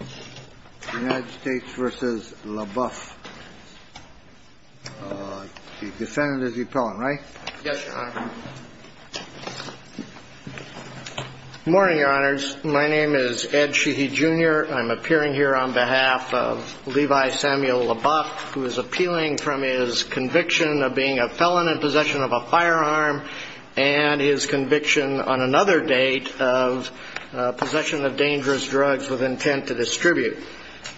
The United States v. LaBuff. The defendant is the appellant, right? Yes, Your Honor. Good morning, Your Honors. My name is Ed Sheehy, Jr. I'm appearing here on behalf of Levi Samuel LaBuff, who is appealing from his conviction of being a felon in possession of a firearm and his conviction on another date of possession of dangerous drugs with intent to distribute.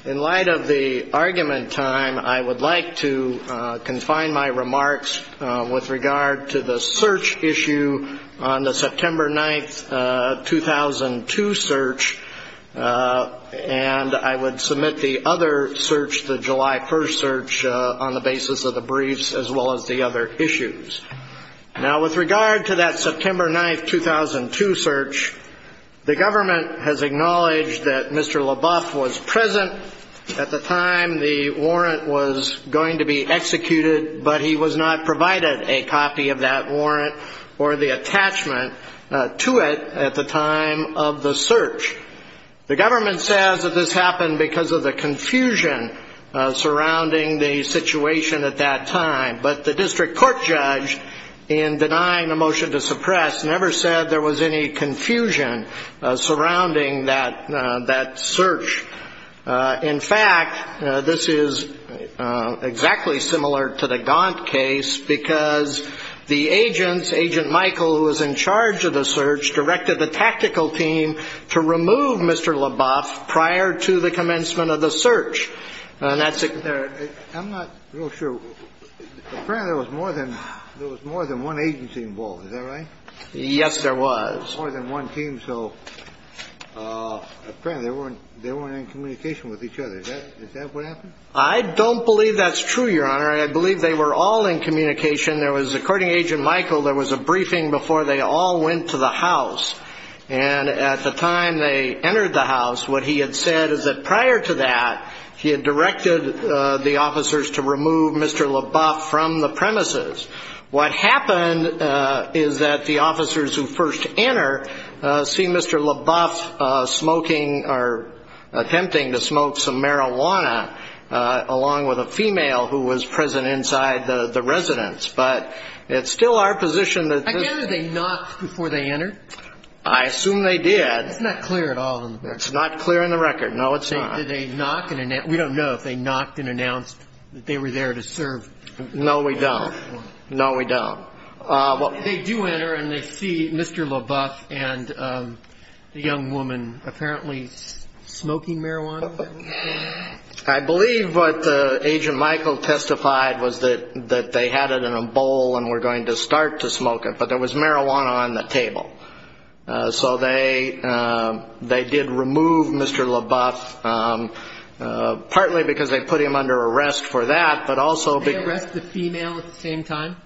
In light of the argument time, I would like to confine my remarks with regard to the search issue on the September 9, 2002 search, and I would submit the other search, the July 1st search, on the basis of the briefs as well as the other issues. Now, with regard to that September 9, 2002 search, the government has acknowledged that Mr. LaBuff was present at the time the warrant was going to be executed, but he was not provided a copy of that warrant or the attachment to it at the time of the search. The government says that this happened because of the confusion surrounding the situation at that time, but the district court judge, in denying the motion to suppress, never said there was any confusion surrounding that search. In fact, this is exactly similar to the Gaunt case because the agents, Agent Michael, who was in charge of the search, directed the tactical team to remove Mr. LaBuff prior to the commencement of the search. I'm not real sure. Apparently there was more than one agency involved. Is that right? Yes, there was. More than one team, so apparently they weren't in communication with each other. Is that what happened? I don't believe that's true, Your Honor. I believe they were all in communication. According to Agent Michael, there was a briefing before they all went to the house, and at the time they entered the house, what he had said is that prior to that, he had directed the officers to remove Mr. LaBuff from the premises. What happened is that the officers who first enter see Mr. LaBuff smoking or attempting to smoke some marijuana along with a female who was present inside the residence. Did they knock before they entered? I assume they did. It's not clear at all. It's not clear in the record. No, it's not. Did they knock? We don't know if they knocked and announced that they were there to serve. No, we don't. No, we don't. They do enter and they see Mr. LaBuff and the young woman apparently smoking marijuana. I believe what Agent Michael testified was that they had it in a bowl and were going to start to smoke it, but there was marijuana on the table. So they did remove Mr. LaBuff, partly because they put him under arrest for that, but also because of the- Did they arrest the female at the same time?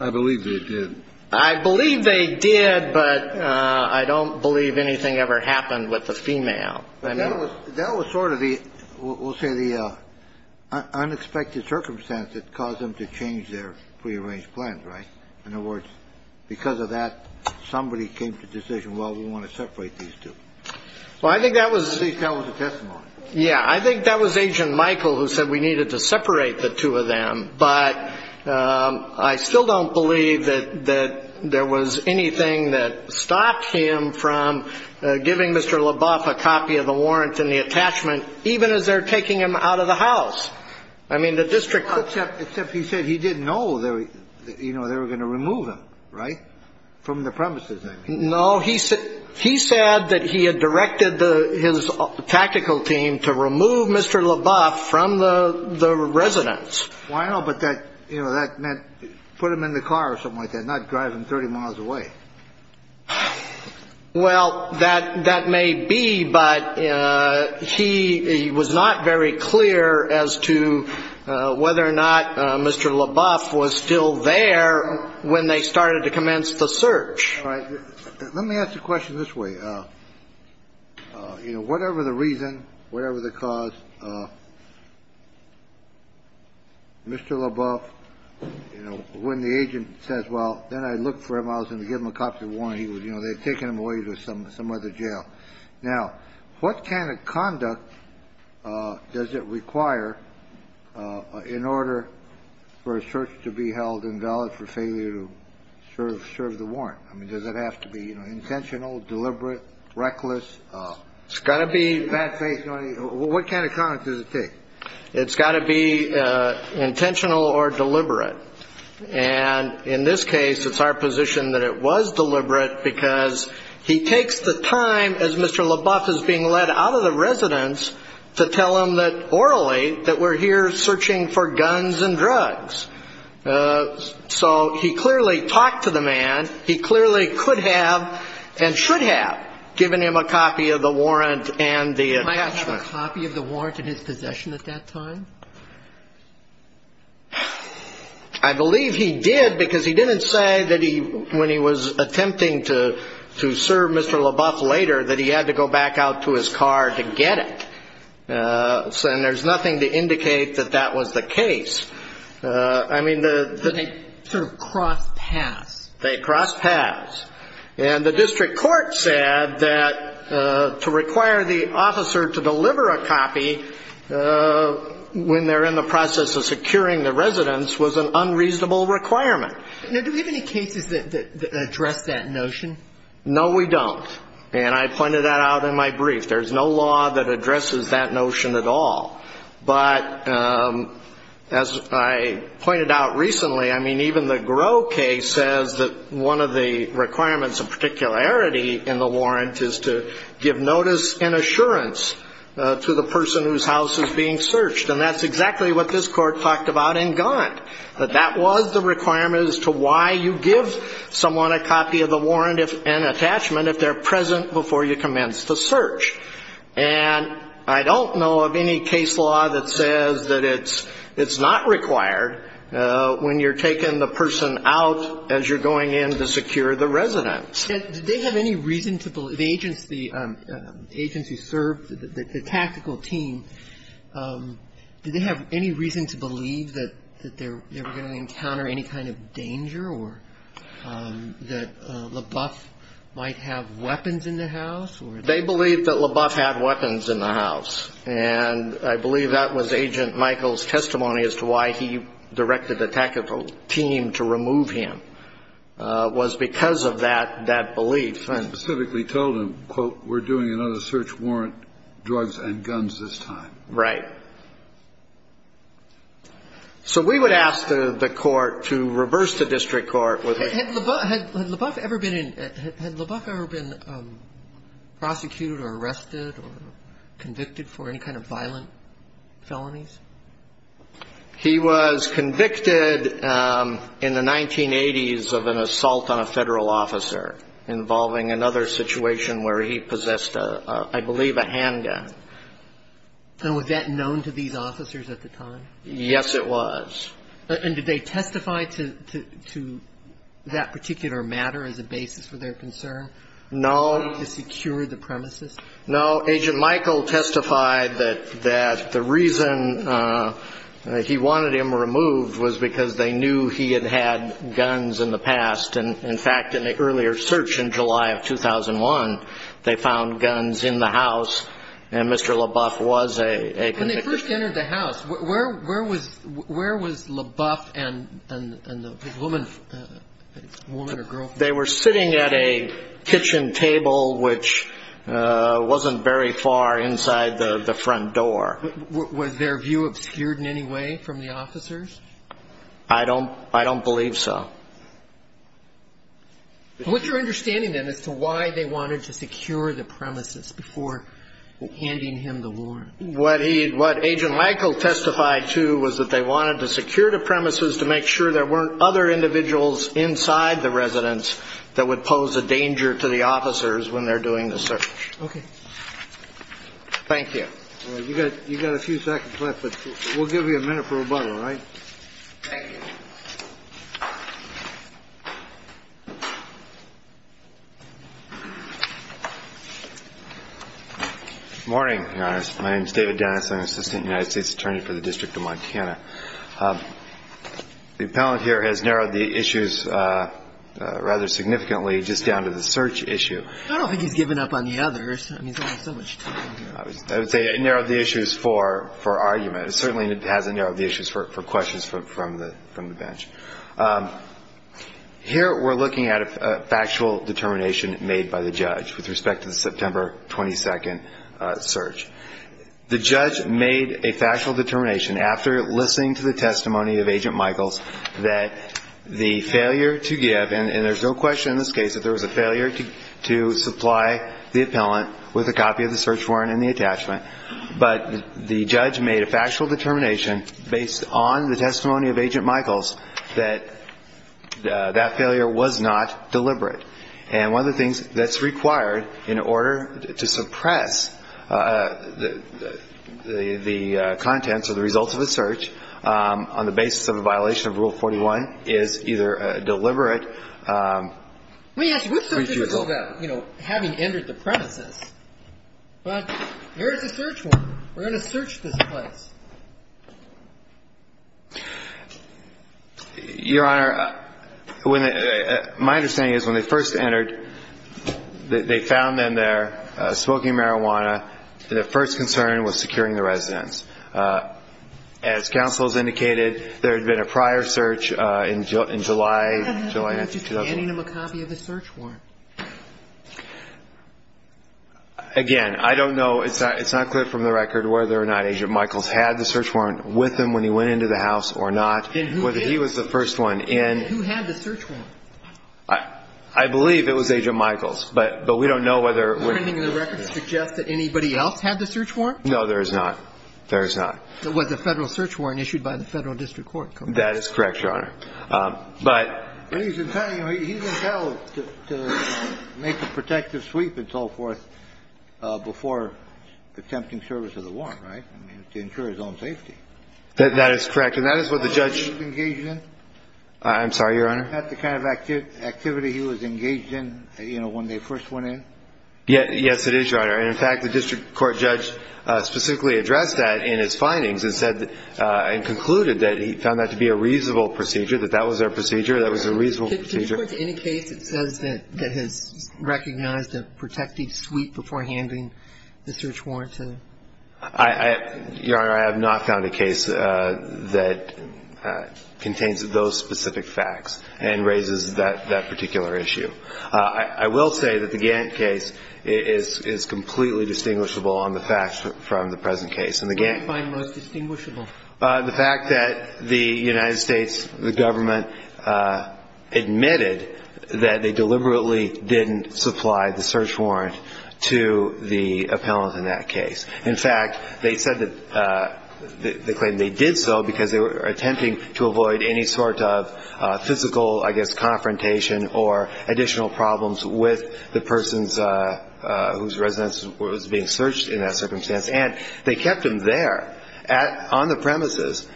I believe they did. I believe they did, but I don't believe anything ever happened with the female. That was sort of the, we'll say, the unexpected circumstance that caused them to change their prearranged plans, right? In other words, because of that, somebody came to the decision, well, we want to separate these two. Well, I think that was- At least that was the testimony. Yeah, I think that was Agent Michael who said we needed to separate the two of them, but I still don't believe that there was anything that stopped him from giving Mr. LaBuff a copy of the warrant and the attachment, even as they're taking him out of the house. I mean, the district- Except he said he didn't know they were going to remove him, right? From the premises, I mean. No, he said that he had directed his tactical team to remove Mr. LaBuff from the residence. Well, I know, but that, you know, that meant put him in the car or something like that, not drive him 30 miles away. Well, that may be, but he was not very clear as to whether or not Mr. LaBuff was still there when they started to commence the search. Let me ask a question this way. You know, whatever the reason, whatever the cause, Mr. LaBuff, you know, when the agent says, well, then I looked for him, I was going to give him a copy of the warrant, you know, they had taken him away to some other jail. Now, what kind of conduct does it require in order for a search to be held invalid for failure to serve the warrant? I mean, does it have to be, you know, intentional, deliberate, reckless? It's got to be- Bad faith. What kind of conduct does it take? It's got to be intentional or deliberate. And in this case, it's our position that it was deliberate because he takes the time, as Mr. LaBuff is being led out of the residence, to tell him that orally that we're here searching for guns and drugs. So he clearly talked to the man. He clearly could have and should have given him a copy of the warrant and the attachment. Did he have a copy of the warrant in his possession at that time? I believe he did because he didn't say that when he was attempting to serve Mr. LaBuff later that he had to go back out to his car to get it. And there's nothing to indicate that that was the case. I mean, the- They sort of crossed paths. They crossed paths. And the district court said that to require the officer to deliver a copy when they're in the process of securing the residence was an unreasonable requirement. Now, do we have any cases that address that notion? No, we don't. And I pointed that out in my brief. There's no law that addresses that notion at all. But as I pointed out recently, I mean, even the Groh case says that one of the requirements of particularity in the warrant is to give notice and assurance to the person whose house is being searched. And that's exactly what this Court talked about in Gant, that that was the requirement as to why you give someone a copy of the warrant and attachment if they're present before you commence the search. And I don't know of any case law that says that it's not required when you're taking the person out as you're going in to secure the residence. Did they have any reason to believe, the agents who served, the tactical team, did they have any reason to believe that they were going to encounter any kind of danger or that LaBeouf might have weapons in the house? They believed that LaBeouf had weapons in the house. And I believe that was Agent Michael's testimony as to why he directed the tactical team to remove him, was because of that belief. And he specifically told them, quote, we're doing another search warrant, drugs and guns this time. Right. So we would ask the Court to reverse the district court. Had LaBeouf ever been prosecuted or arrested or convicted for any kind of violent felonies? He was convicted in the 1980s of an assault on a Federal officer involving another situation where he possessed, I believe, a handgun. And was that known to these officers at the time? Yes, it was. And did they testify to that particular matter as a basis for their concern? No. To secure the premises? No. Agent Michael testified that the reason he wanted him removed was because they knew he had had guns in the past. And, in fact, in the earlier search in July of 2001, they found guns in the house, and Mr. LaBeouf was a convict. When they first entered the house, where was LaBeouf and the woman or girl? They were sitting at a kitchen table, which wasn't very far inside the front door. Was their view obscured in any way from the officers? I don't believe so. What's your understanding, then, as to why they wanted to secure the premises before handing him the warrant? What Agent Michael testified to was that they wanted to secure the premises to make sure there weren't other individuals inside the residence that would pose a danger to the officers when they're doing the search. Okay. Thank you. You've got a few seconds left, but we'll give you a minute for rebuttal, all right? Thank you. Good morning, Your Honor. My name is David Dennis. I'm an assistant United States attorney for the District of Montana. The appellant here has narrowed the issues rather significantly just down to the search issue. I don't think he's given up on the others. I mean, he's only got so much time. I would say it narrowed the issues for argument. It certainly hasn't narrowed the issues for questions from the public. Here we're looking at a factual determination made by the judge with respect to the September 22nd search. The judge made a factual determination after listening to the testimony of Agent Michaels that the failure to give, and there's no question in this case that there was a failure to supply the appellant with a copy of the search warrant and the attachment, but the judge made a factual determination based on the testimony of Agent Michaels that that failure was not deliberate. And one of the things that's required in order to suppress the contents or the results of a search on the basis of a violation of Rule 41 is either a deliberate refusal. You know, having entered the premises, but here's the search warrant. We're going to search this place. Your Honor, my understanding is when they first entered, they found them there smoking marijuana, and their first concern was securing the residence. As counsel has indicated, there had been a prior search in July. Again, I don't know. It's not clear from the record whether or not Agent Michaels had the search warrant with him when he went into the house or not, whether he was the first one in. And who had the search warrant? I believe it was Agent Michaels, but we don't know whether it was him. Is there anything in the record that suggests that anybody else had the search warrant? No, there is not. There is not. It was a Federal search warrant issued by the Federal District Court, correct? That is correct, Your Honor. But he's entitled to make a protective sweep and so forth before attempting service of the warrant, right? I mean, to ensure his own safety. That is correct. And that is what the judge engaged in. I'm sorry, Your Honor? That's the kind of activity he was engaged in, you know, when they first went in. Yes, it is, Your Honor. And, in fact, the District Court judge specifically addressed that in his findings and concluded that he found that to be a reasonable procedure, that that was their procedure, that was a reasonable procedure. Did the District Court, in any case, it says that it has recognized a protective sweep before handling the search warrant? Your Honor, I have not found a case that contains those specific facts and raises that particular issue. I will say that the Gantt case is completely distinguishable on the facts from the present case. What do you find most distinguishable? The fact that the United States, the government, admitted that they deliberately didn't supply the search warrant to the appellant in that case. In fact, they said that they claimed they did so because they were attempting to avoid any sort of physical, I guess, confrontation or additional problems with the persons whose residence was being searched in that circumstance. And they kept them there on the premises,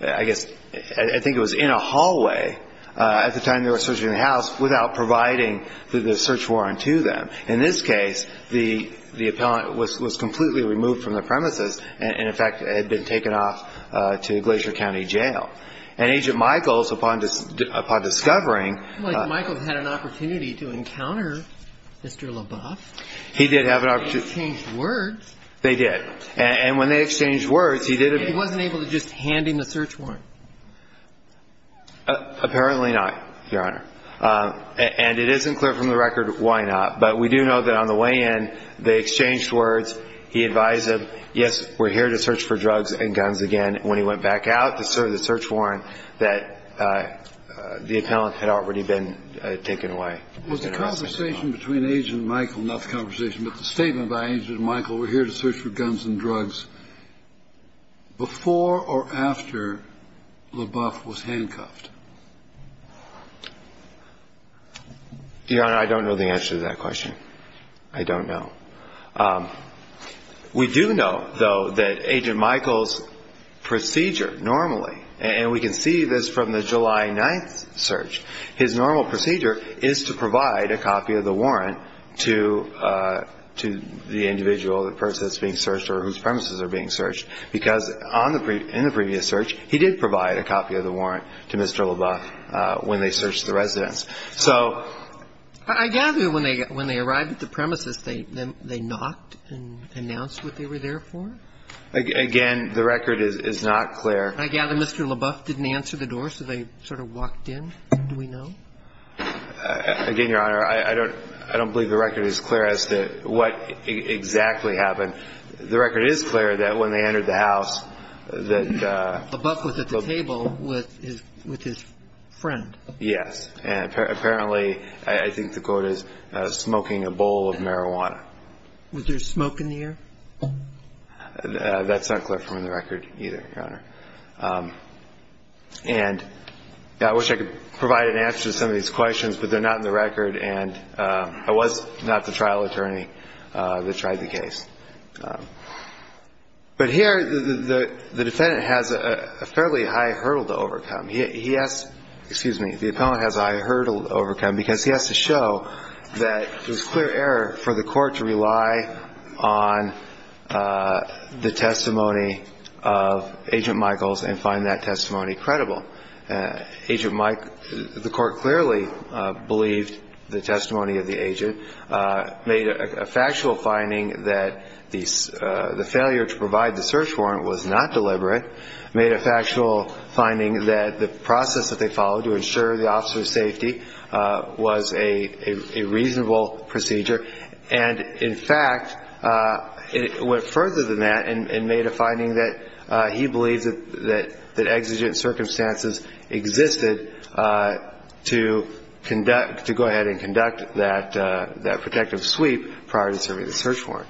I guess, I think it was in a hallway, at the time they were searching the house, without providing the search warrant to them. In this case, the appellant was completely removed from the premises and, in fact, had been taken off to Glacier County Jail. And Agent Michaels, upon discovering… Well, Agent Michaels had an opportunity to encounter Mr. LaBeouf. He did have an opportunity. They didn't change words. They did. And when they exchanged words, he did… He wasn't able to just hand him the search warrant? Apparently not, Your Honor. And it isn't clear from the record why not. But we do know that on the way in, they exchanged words. He advised them, yes, we're here to search for drugs and guns again. When he went back out to serve the search warrant, that the appellant had already been taken away. Was the conversation between Agent Michaels, not the conversation, but the statement by Agent Michaels, we're here to search for guns and drugs, before or after LaBeouf was handcuffed? Your Honor, I don't know the answer to that question. I don't know. We do know, though, that Agent Michaels' procedure normally, and we can see this from the July 9th search, his normal procedure is to provide a copy of the warrant to the individual, the person that's being searched or whose premises are being searched, because in the previous search, he did provide a copy of the warrant to Mr. LaBeouf when they searched the residence. So… I gather when they arrived at the premises, they knocked and announced what they were there for? Again, the record is not clear. I gather Mr. LaBeouf didn't answer the door, so they sort of walked in? Do we know? Again, Your Honor, I don't believe the record is clear as to what exactly happened. The record is clear that when they entered the house, that… LaBeouf was at the table with his friend. Yes. And apparently, I think the quote is, smoking a bowl of marijuana. Was there smoke in the air? That's not clear from the record either, Your Honor. And I wish I could provide an answer to some of these questions, but they're not in the record, and I was not the trial attorney that tried the case. But here, the defendant has a fairly high hurdle to overcome. He has… The defendant has a high hurdle to overcome, because he has to show that it was clear error for the court to rely on the testimony of Agent Michaels and find that testimony credible. Agent… The court clearly believed the testimony of the agent, made a factual finding that the failure to provide the search warrant was not deliberate, made a factual finding that the process that they followed to ensure the officer's safety was a reasonable procedure. And, in fact, it went further than that and made a finding that he believes that exigent circumstances existed to conduct… to go ahead and conduct that protective sweep prior to serving the search warrant.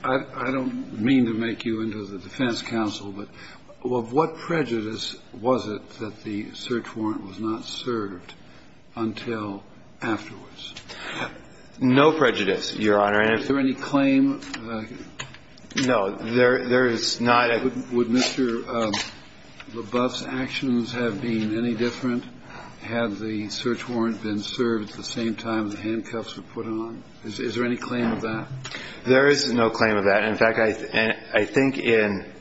I don't mean to make you into the defense counsel, but what prejudice was it that the search warrant was not served until afterwards? No prejudice, Your Honor. And is there any claim… No. There is not a… Would Mr. LaBoeuf's actions have been any different had the search warrant been served at the same time the handcuffs were put on? Is there any claim of that? There is no claim of that. In fact, I think in…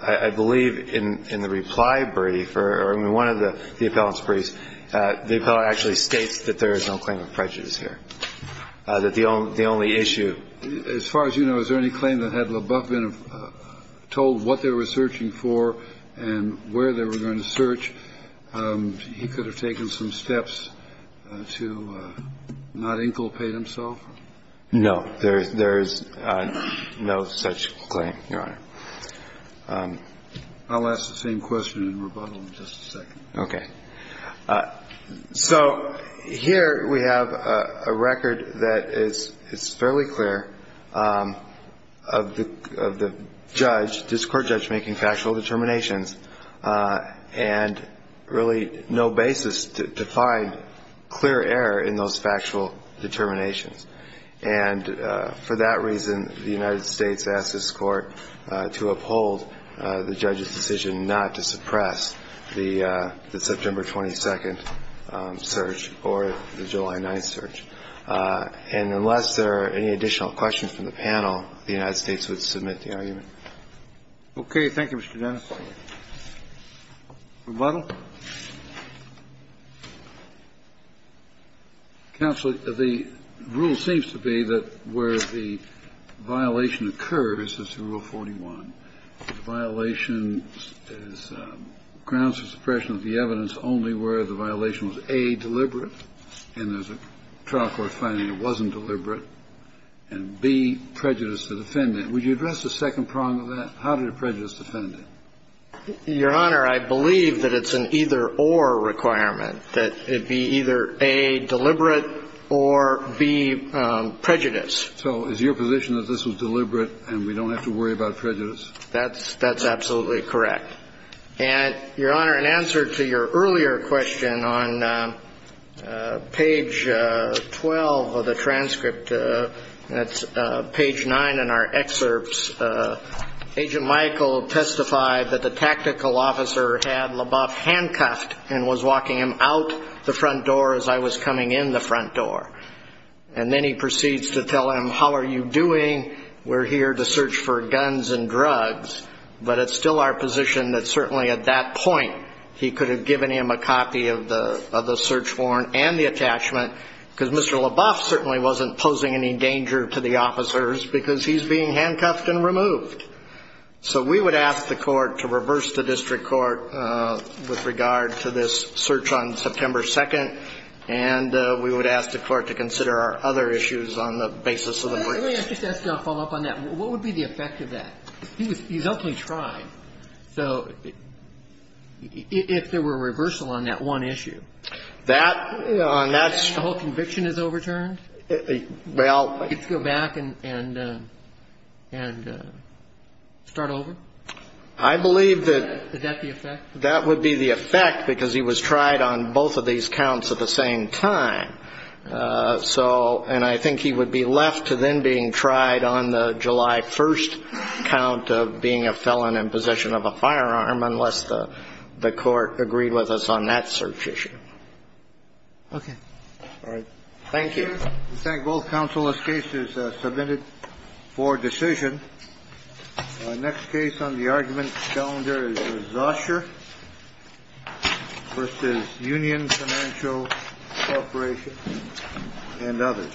I believe in the reply brief or in one of the appellant's briefs, the appellant actually states that there is no claim of prejudice here, that the only issue… As far as you know, is there any claim that had LaBoeuf been told what they were searching for and where they were going to search, he could have taken some steps to not inculpate himself? No. There is no such claim, Your Honor. I'll ask the same question in rebuttal in just a second. Okay. So here we have a record that is fairly clear of the judge, this court judge, making factual determinations, and really no basis to find clear error in those factual determinations. And for that reason, the United States asked this court to uphold the judge's decision not to suppress the September 22nd search or the July 9th search. And unless there are any additional questions from the panel, the United States would submit the argument. Okay. Thank you, Mr. Dennis. Rebuttal. Counsel, the rule seems to be that where the violation occurs, as to Rule 41, the violation is grounds for suppression of the evidence only where the violation was, A, deliberate and there's a trial court finding it wasn't deliberate, and, B, prejudiced the defendant. Would you address the second prong of that? How did it prejudice the defendant? Your Honor, I believe that it's an either-or requirement, that it be either, A, deliberate or, B, prejudice. So is your position that this was deliberate and we don't have to worry about prejudice? That's absolutely correct. And, Your Honor, in answer to your earlier question on page 12 of the transcript, that's page 9 in our excerpts, Agent Michael testified that the tactical officer had Leboff handcuffed and was walking him out the front door as I was coming in the front door. And then he proceeds to tell him, How are you doing? We're here to search for guns and drugs. But it's still our position that certainly at that point he could have given him a copy of the search warrant and the attachment because Mr. Leboff certainly wasn't posing any danger to the officers because he's being handcuffed and removed. So we would ask the Court to reverse the district court with regard to this search on September 2nd, and we would ask the Court to consider our other issues on the basis of the brief. Let me just ask you a follow-up on that. What would be the effect of that? He's openly trying. So if there were a reversal on that one issue? The whole conviction is overturned? Well. He'd go back and start over? I believe that. Is that the effect? That would be the effect because he was tried on both of these counts at the same time. And I think he would be left to then being tried on the July 1st count of being a felon in possession of a firearm unless the Court agreed with us on that search issue. Okay. All right. Thank you. We thank both counsel. This case is submitted for decision. Our next case on the argument calendar is Zoscher v. Union Financial Corporation and others. Thank you.